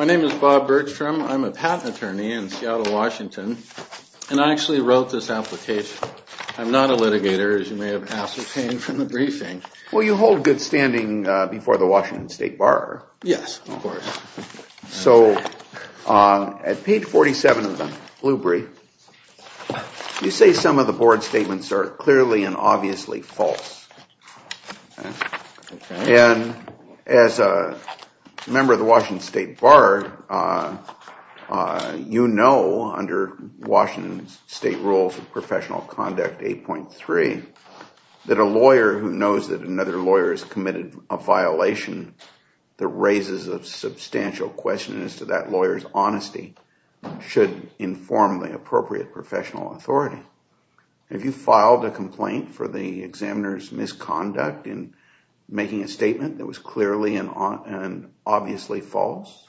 I'M A PATENT ATTORNEY IN SEATTLE, WASHINGTON, AND I ACTUALLY WROTE THIS APPLICATION. I'M NOT A LITIGATOR, AS YOU MAY HAVE ASCERTAINED FROM THE BRIEFING. WELL, YOU HOLD GOOD STANDING BEFORE THE WASHINGTON STATE BORROWER. YES, OF COURSE. SO AT PAGE 47 OF THE BLUEBRIEF, YOU SAY SOME OF THE BOARD STATEMENTS ARE CLEARLY AND OBVIOUSLY FALSE. AND AS A MEMBER OF THE WASHINGTON STATE BORROWER, YOU KNOW UNDER WASHINGTON STATE RULES OF PROFESSIONAL CONDUCT 8.3, THAT A LAWYER WHO KNOWS THAT ANOTHER LAWYER HAS COMMITTED A VIOLATION THAT RAISES A SUBSTANTIAL QUESTION AS TO THAT LAWYER'S HONESTY SHOULD INFORM THE APPROPRIATE PROFESSIONAL AUTHORITY. HAVE YOU FILED A COMPLAINT FOR THE EXAMINER'S MISCONDUCT IN MAKING A STATEMENT THAT WAS CLEARLY AND OBVIOUSLY FALSE?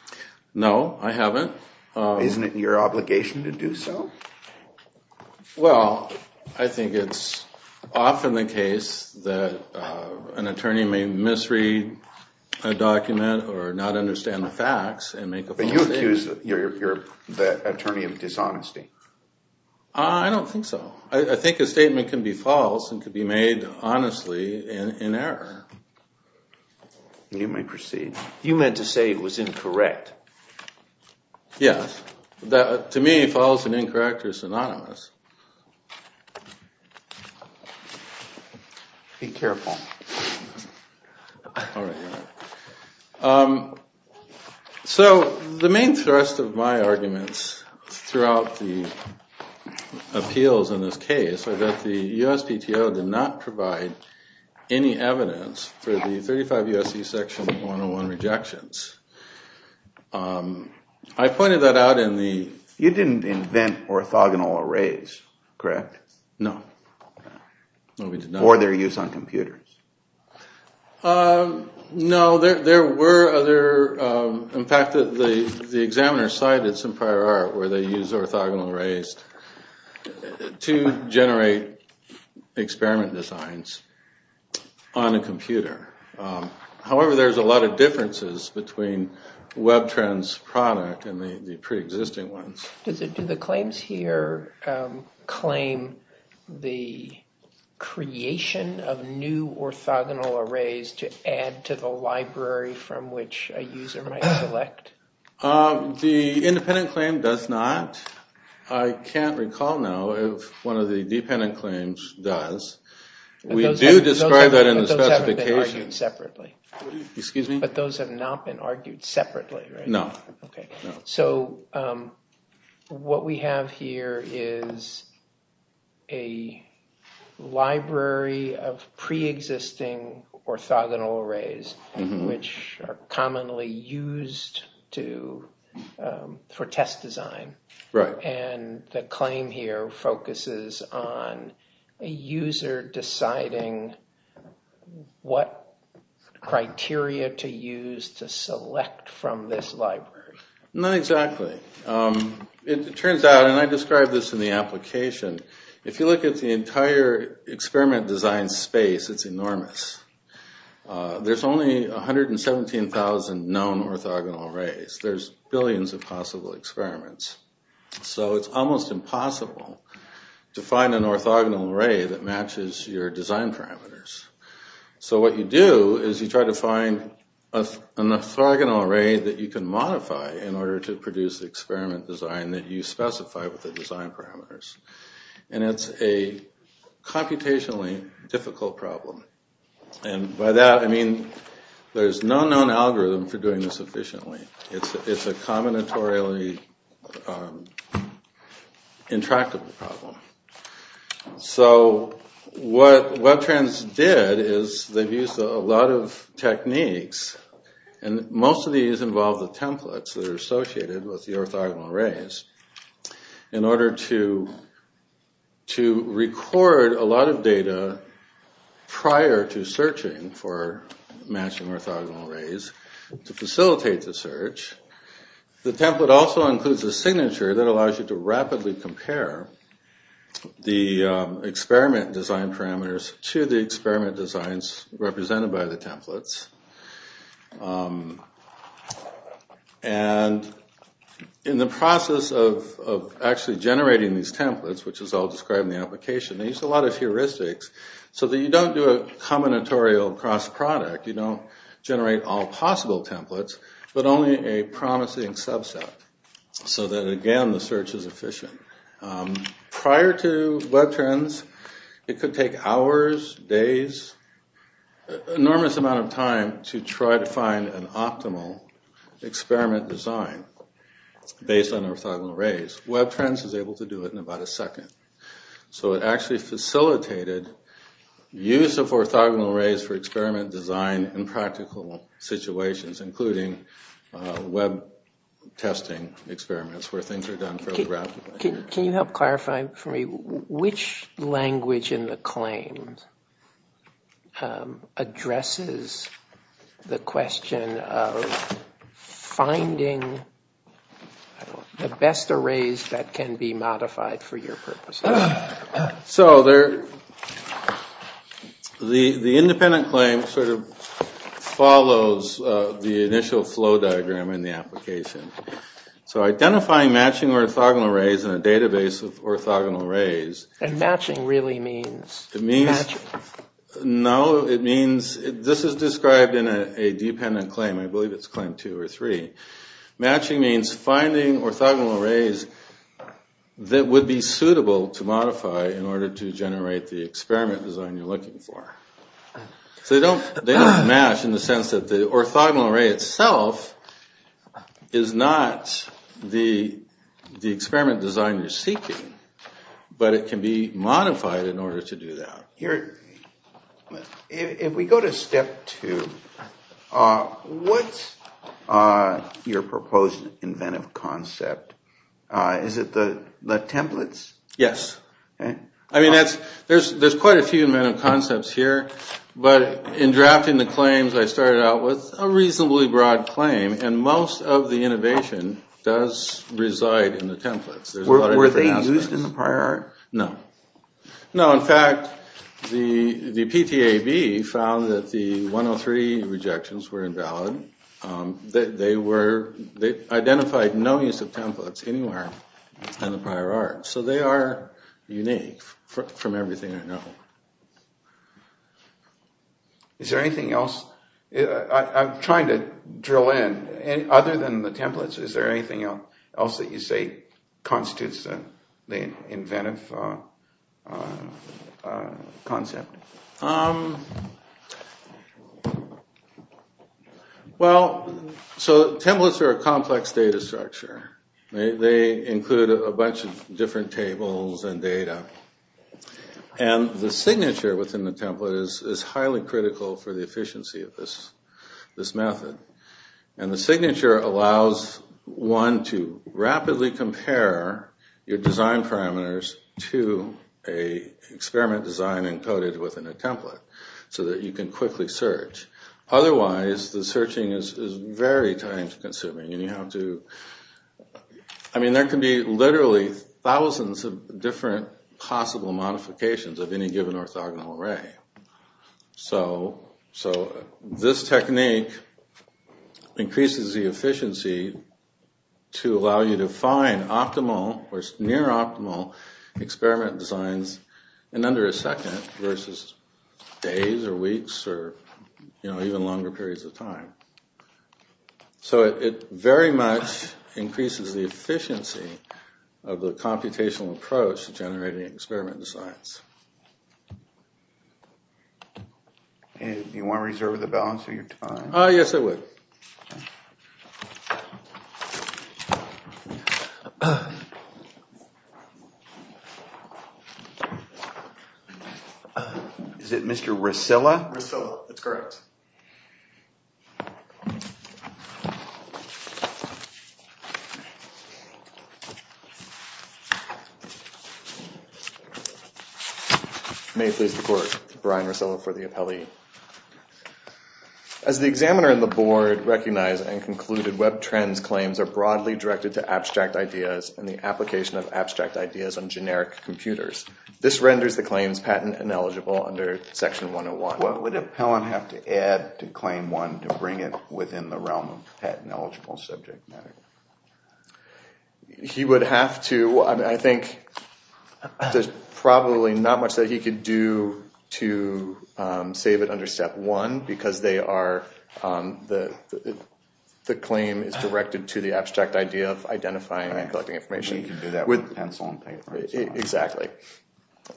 NO, I HAVEN'T. ISN'T IT YOUR OBLIGATION TO DO SO? WELL, I THINK IT'S OFTEN THE CASE THAT AN ATTORNEY MAY MISREAD A DOCUMENT OR NOT UNDERSTAND THE FACTS AND MAKE A FALSE STATEMENT. BUT YOU ACCUSE THE ATTORNEY OF DISHONESTY. I DON'T THINK SO. I THINK A STATEMENT CAN BE FALSE AND CAN BE MADE HONESTLY IN ERROR. YOU MAY PROCEED. YOU MEANT TO SAY IT WAS INCORRECT. YES. TO ME, FALSE AND INCORRECT ARE SYNONYMOUS. SO THE MAIN THRUST OF MY ARGUMENTS THROUGHOUT THE APPEALS IN THIS CASE IS THAT THE USPTO DID NOT PROVIDE ANY EVIDENCE FOR THE 35 U.S.C. SECTION 101 REJECTIONS. I POINTED THAT OUT IN THE... YOU DIDN'T INVENT ORTHOGONAL ARRAYS, CORRECT? NO. OR THEY'RE USED ON COMPUTERS. NO. THERE WERE OTHER... IN FACT, THE EXAMINERS CITED SOME PRIOR ART WHERE THEY USED ORTHOGONAL ARRAYS TO GENERATE EXPERIMENT DESIGNS ON A COMPUTER. HOWEVER, THERE'S A LOT OF DIFFERENCES BETWEEN WEBTRAN'S PRODUCT AND THE PRE-EXISTING ONES. DO THE CLAIMS HERE CLAIM THE CREATION OF NEW ORTHOGONAL ARRAYS TO ADD TO THE LIBRARY FROM WHICH A USER MIGHT SELECT? THE INDEPENDENT CLAIM DOES NOT. I CAN'T RECALL NOW IF ONE OF THE DEPENDENT CLAIMS DOES. WE DO DESCRIBE THAT IN THE SPECIFICATION. EXCUSE ME? BUT THOSE HAVE NOT BEEN ARGUED SEPARATELY, RIGHT? NO. OKAY. SO, WHAT WE HAVE HERE IS A LIBRARY OF PRE-EXISTING ORTHOGONAL ARRAYS WHICH ARE COMMONLY USED FOR TEST DESIGN. RIGHT. AND THE CLAIM HERE FOCUSES ON A USER DECIDING WHAT CRITERIA TO USE TO SELECT FROM THIS LIBRARY. NOT EXACTLY. IT TURNS OUT, AND I DESCRIBE THIS IN THE APPLICATION, IF YOU LOOK AT THE ENTIRE EXPERIMENT DESIGN SPACE, IT'S ENORMOUS. THERE'S ONLY 117,000 KNOWN ORTHOGONAL ARRAYS. THERE'S BILLIONS OF POSSIBLE EXPERIMENTS. SO IT'S ALMOST IMPOSSIBLE TO FIND AN ORTHOGONAL ARRAY THAT MATCHES YOUR DESIGN PARAMETERS. SO WHAT YOU DO IS YOU TRY TO FIND AN ORTHOGONAL ARRAY THAT YOU CAN MODIFY IN ORDER TO PRODUCE THE EXPERIMENT DESIGN THAT YOU SPECIFY WITH THE DESIGN PARAMETERS. AND IT'S A COMPUTATIONALLY DIFFICULT PROBLEM. AND BY THAT, I MEAN THERE'S NO KNOWN ALGORITHM FOR DOING THIS EFFICIENTLY. IT'S A COMBINATORIALLY INTRACTABLE PROBLEM. SO WHAT WEBTRANDS DID IS THEY'VE USED A LOT OF TECHNIQUES. AND MOST OF THESE INVOLVE THE TEMPLATES THAT ARE ASSOCIATED WITH THE ORTHOGONAL ARRAYS IN ORDER TO RECORD A LOT OF DATA PRIOR TO SEARCHING FOR MATCHING ORTHOGONAL ARRAYS TO FACILITATE THE SEARCH. THE TEMPLATE ALSO INCLUDES A SIGNATURE THAT ALLOWS YOU TO RAPIDLY COMPARE THE EXPERIMENT DESIGN PARAMETERS TO THE EXPERIMENT DESIGNS REPRESENTED BY THE TEMPLATES. AND IN THE PROCESS OF ACTUALLY GENERATING THESE TEMPLATES, WHICH IS ALL DESCRIBED IN THE APPLICATION, THEY USE A LOT OF HEURISTICS SO THAT YOU DON'T DO A COMBINATORIAL CROSS-PRODUCT. YOU DON'T GENERATE ALL POSSIBLE TEMPLATES, BUT ONLY A PROMISING SUBSET SO THAT, AGAIN, THE SEARCH IS EFFICIENT. PRIOR TO WEBTRANS, IT COULD TAKE HOURS, DAYS, ENORMOUS AMOUNT OF TIME TO TRY TO FIND AN OPTIMAL EXPERIMENT DESIGN BASED ON ORTHOGONAL ARRAYS. WEBTRANS IS ABLE TO DO IT IN ABOUT A SECOND. SO IT ACTUALLY FACILITATED USE OF ORTHOGONAL ARRAYS FOR EXPERIMENT DESIGN IN PRACTICAL SITUATIONS, INCLUDING WEB TESTING EXPERIMENTS WHERE THINGS ARE DONE PHOTOGRAPHICALLY. Can you help clarify for me which language in the claims addresses the question of finding the best arrays that So the independent claim sort of follows the initial flow diagram in the application. So identifying matching orthogonal arrays in a database of orthogonal arrays. And matching really means? It means, no, it means, this is described in a dependent claim. I believe it's claim two or three. Matching means finding orthogonal arrays that would be suitable to modify in order to generate the experiment design you're looking for. So they don't match in the sense that the orthogonal array itself is not the experiment design you're seeking, but it can be modified in order to do that. Here, if we go to step two, what's your proposed inventive concept? Is it the templates? Yes. I mean, there's quite a few inventive concepts here. But in drafting the claims, I started out with a reasonably broad claim. And most of the innovation does reside in the templates. Were they used in the prior? No. No, in fact, the PTAB found that the 103 rejections were invalid. They identified no use of templates anywhere in the prior art. So they are unique from everything I know. Is there anything else? I'm trying to drill in. Other than the templates, is there anything else that you say constitutes the inventive concept? Well, so templates are a complex data structure. They include a bunch of different tables and data. And the signature within the template is highly critical for the efficiency of this method. And the signature allows one to rapidly compare your design parameters to a experiment design encoded within a template so that you can quickly search. Otherwise, the searching is very time consuming. And you have to, I mean, there can be literally thousands of different possible modifications of any given orthogonal array. So this technique increases the efficiency to allow you to find optimal or near optimal experiment designs in under a second versus days or weeks or even longer periods of time. So it very much increases the efficiency of the computational approach to generating experiment designs. And do you want to reserve the balance of your time? Yes, I would. Is it Mr. Resilla? Resilla, that's correct. Thank you. May I please report to Brian Resilla for the appellee? As the examiner in the board recognized and concluded web trends claims are broadly directed to abstract ideas and the application of abstract ideas on generic computers. This renders the claims patent ineligible under section 101. What would an appellant have to add to claim one to bring it within the realm of patent eligible subject matter? He would have to, I think, there's probably not much that he could do to save it under step one because the claim is directed to the abstract idea of identifying and collecting information. He can do that with pencil and paper. Exactly.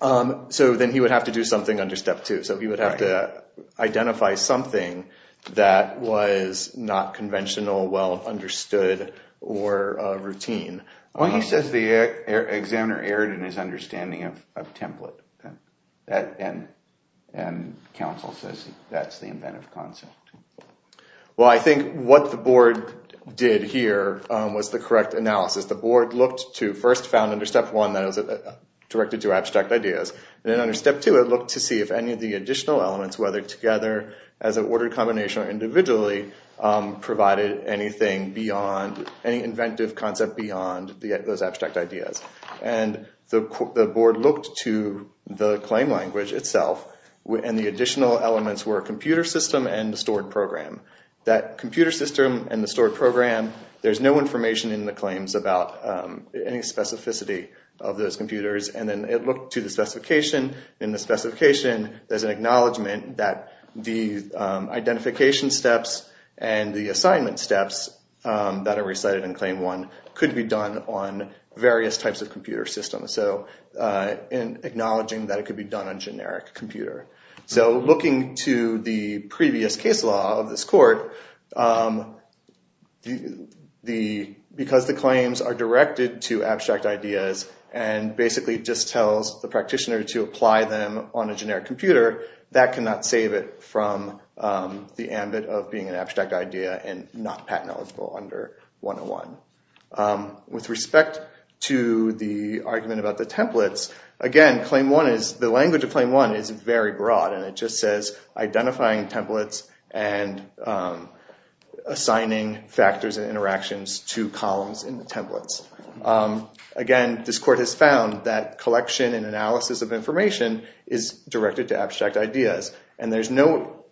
So then he would have to do something under step two. So he would have to identify something that was not conventional, well understood, or routine. Well, he says the examiner erred in his understanding of template. And counsel says that's the inventive concept. Well, I think what the board did here was the correct analysis. The board looked to first found under step one that it was directed to abstract ideas. And then under step two, it looked to see if any of the additional elements, whether together as an ordered combination or individually, provided anything beyond any inventive concept beyond those abstract ideas. And the board looked to the claim language itself. And the additional elements were a computer system and the stored program. That computer system and the stored program, there's no information in the claims about any specificity of those computers. And then it looked to the specification. In the specification, there's an acknowledgment that the identification steps and the assignment steps that are recited in claim one could be done on various types of computer systems. So acknowledging that it could be done on generic computer. So looking to the previous case law of this court, because the claims are directed to abstract ideas and basically just tells the practitioner to apply them on a generic computer, that cannot save it from the ambit of being an abstract idea and not patent-eligible under 101. With respect to the argument about the templates, again, the language of claim one is very broad. And it just says identifying templates and assigning factors and interactions to columns in the templates. Again, this court has found that collection and analysis of information is directed to abstract ideas. And there's no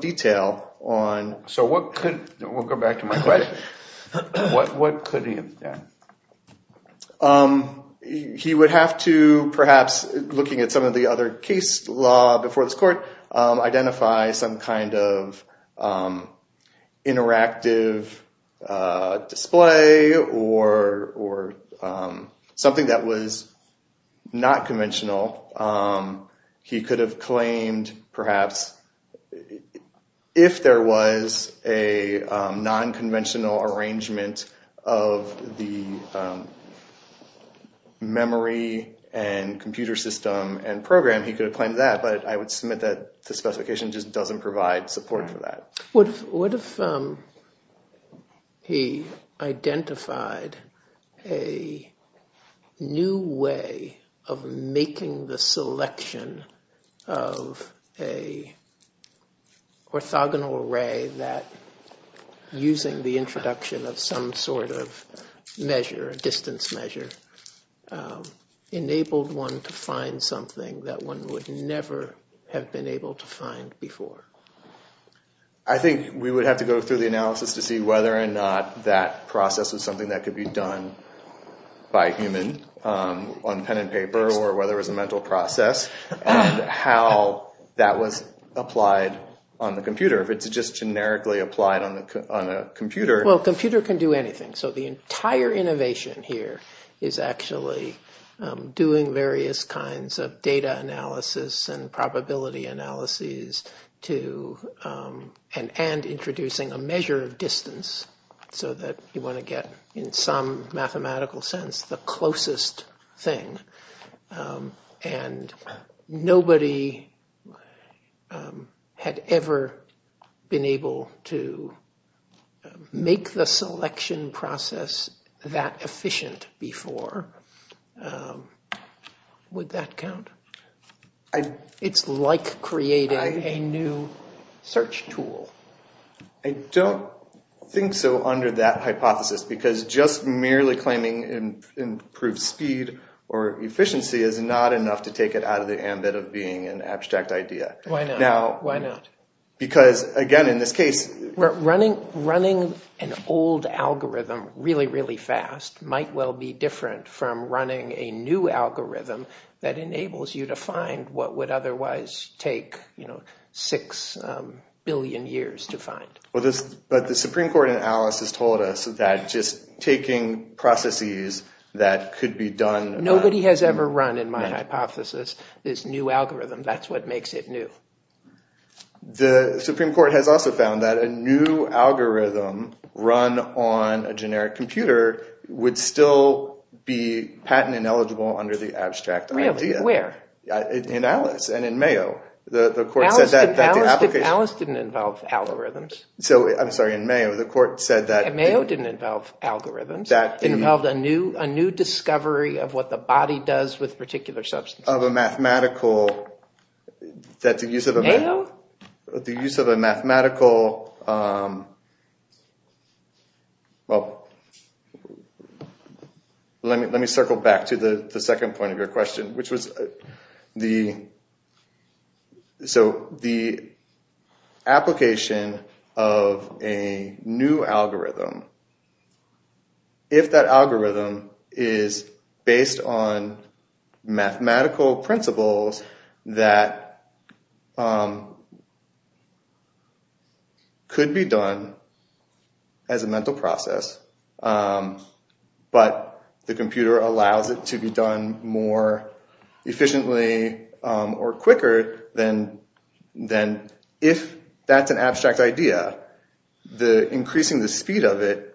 detail on. So what could, we'll go back to my question, what could he have done? He would have to, perhaps, looking at some of the other case law before this court, identify some kind of interactive display or something that was not conventional. He could have claimed, perhaps, if there was a non-conventional arrangement of the memory and computer system and program, he could have claimed that. But I would submit that the specification just doesn't provide support for that. What if he identified a new way of making the selection of a orthogonal array that, using the introduction of some sort of measure, a distance measure, enabled one to find something that one would never have been able to find before? I think we would have to go through the analysis to see whether or not that process was something that could be done by human on pen and paper, or whether it was a mental process, how that was applied on the computer. If it's just generically applied on a computer. Well, a computer can do anything. So the entire innovation here is actually doing various kinds of data analysis and probability analyses and introducing a measure of distance so that you want to get, in some mathematical sense, the closest thing. And nobody had ever been able to make the selection process that efficient before. Would that count? It's like creating a new search tool. I don't think so under that hypothesis, because just merely claiming improved speed or efficiency is not enough to take it out of the ambit of being an abstract idea. Why not? Why not? Because, again, in this case, running an old algorithm really, really fast might well be different from running a new algorithm that enables you to find what would otherwise take 6 billion years to find. But the Supreme Court analysis told us that just taking processes that could be done. Nobody has ever run, in my hypothesis, this new algorithm. That's what makes it new. The Supreme Court has also found that a new algorithm run on a generic computer would still be patent ineligible under the abstract idea. Where? In Alice and in Mayo. The court said that the application. Alice didn't involve algorithms. So, I'm sorry, in Mayo, the court said that. Mayo didn't involve algorithms. That involved a new discovery of what the body does with particular substances. Of a mathematical. Is that the use of a? Mayo? The use of a mathematical. Well, let me circle back to the second point of your question, which was the application of a new algorithm. If that algorithm is based on mathematical principles that could be done as a mental process, but the computer allows it to be done more efficiently or quicker than if that's an abstract idea, the increasing the speed of it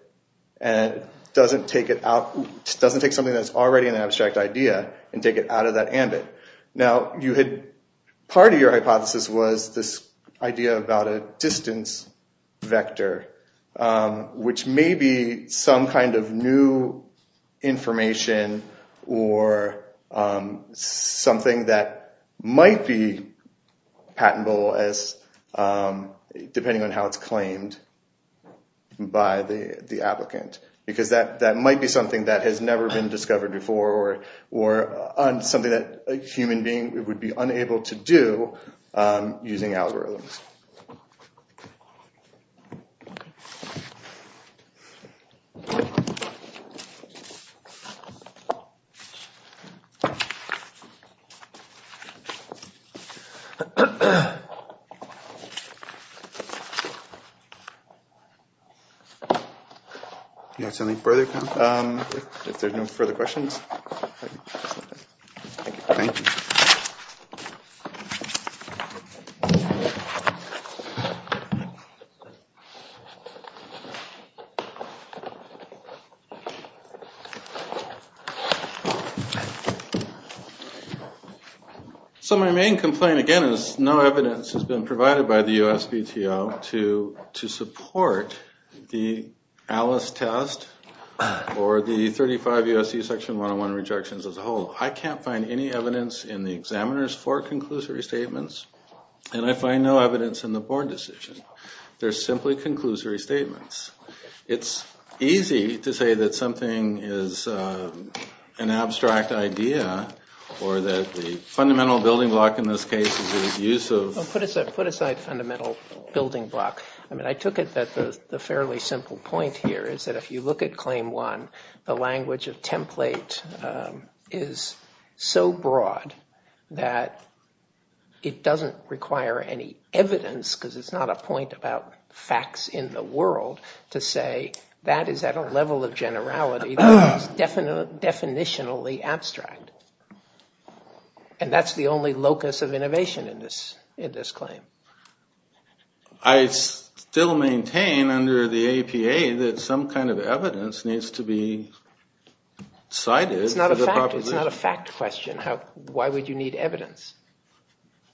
doesn't take something that's already an abstract idea and take it out of that ambit. Now, part of your hypothesis was this idea about a distance vector, which may be some kind of new information or something that might be patentable, depending on how it's claimed by the applicant. Because that might be something that has never been discovered before or something that a human being would be unable to do using algorithms. Do you have something further? If there's no further questions. Thank you. So my main complaint, again, is no evidence has been provided by the USPTO to support the Alice test or the 35 USC section 101 rejections as a whole. I can't find any evidence in the examiners for conclusory statements, and I find no evidence in the board decision. They're simply conclusory statements. It's easy to say that something is an abstract idea or that the fundamental building block, in this case, is the use of. Put aside fundamental building block. I mean, I took it that the fairly simple point here is that if you look at claim one, the language of template is so broad that it doesn't require any evidence, because it's not a point about facts in the world, to say that is at a level of generality that is definitionally abstract. And that's the only locus of innovation in this claim. I still maintain under the APA that some kind of evidence needs to be cited. It's not a fact. It's not a fact question. Why would you need evidence?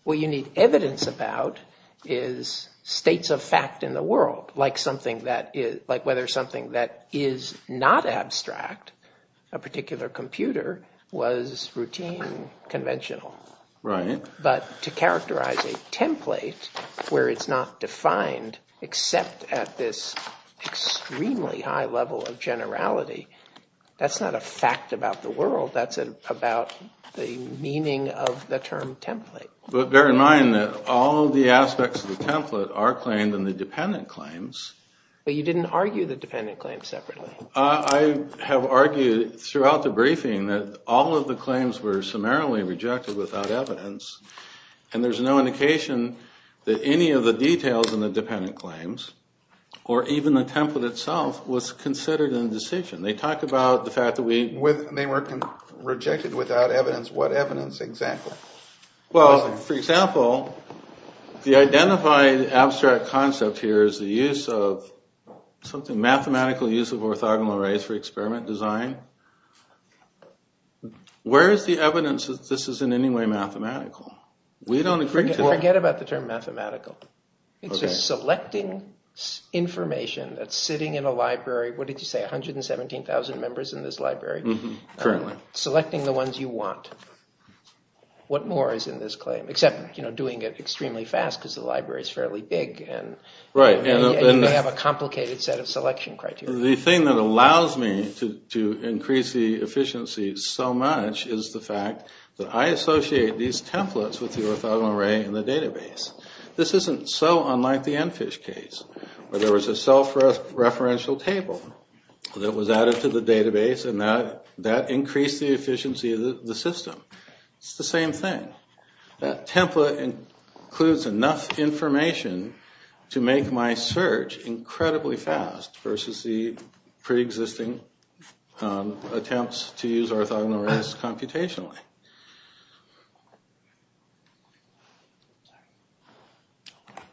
What you need evidence about is states of fact in the world, like whether something that is not abstract, a particular computer, was routine, conventional. But to characterize a template where it's not defined except at this extremely high level of generality, that's not a fact about the world. That's about the meaning of the term template. But bear in mind that all of the aspects of the template are claimed in the dependent claims. But you didn't argue the dependent claims separately. I have argued throughout the briefing that all of the claims were summarily rejected without evidence. And there's no indication that any of the details in the dependent claims, or even the template itself, was considered in the decision. They talk about the fact that we were rejected without evidence. What evidence exactly? Well, for example, the identified abstract concept here is the use of something, mathematical use of orthogonal arrays for experiment design. Where is the evidence that this is in any way mathematical? We don't agree to that. Forget about the term mathematical. It's just selecting information that's sitting in a library. What did you say, 117,000 members in this library? Currently. Selecting the ones you want. What more is in this claim? Except doing it extremely fast, because the library is fairly big, and you may have a complicated set of selection criteria. The thing that allows me to increase the efficiency so much is the fact that I associate these templates with the orthogonal array in the database. This isn't so unlike the EnFISH case, where there was a self-referential table that was added to the database, and that increased the efficiency of the system. It's the same thing. That template includes enough information to make my search incredibly fast, versus the pre-existing attempts to use orthogonal arrays computationally.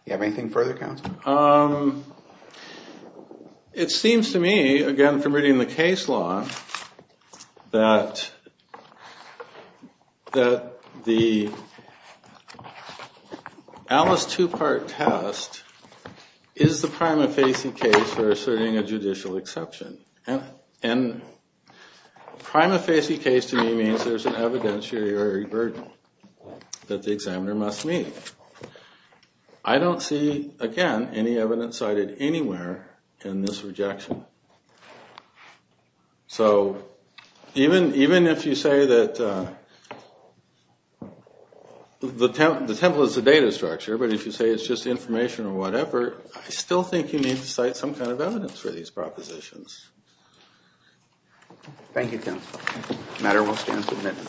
You have anything further, counsel? It seems to me, again, from reading the case law, that the Alice two-part test is the prima facie case for asserting a judicial exception. And prima facie case, to me, means there's an evidentiary burden that the examiner must meet. I don't see, again, any evidence cited anywhere in this rejection. So even if you say that the template is a data structure, but if you say it's just information or whatever, I still think you need to cite some kind of evidence for these propositions. Thank you, counsel. The matter will stand submitted.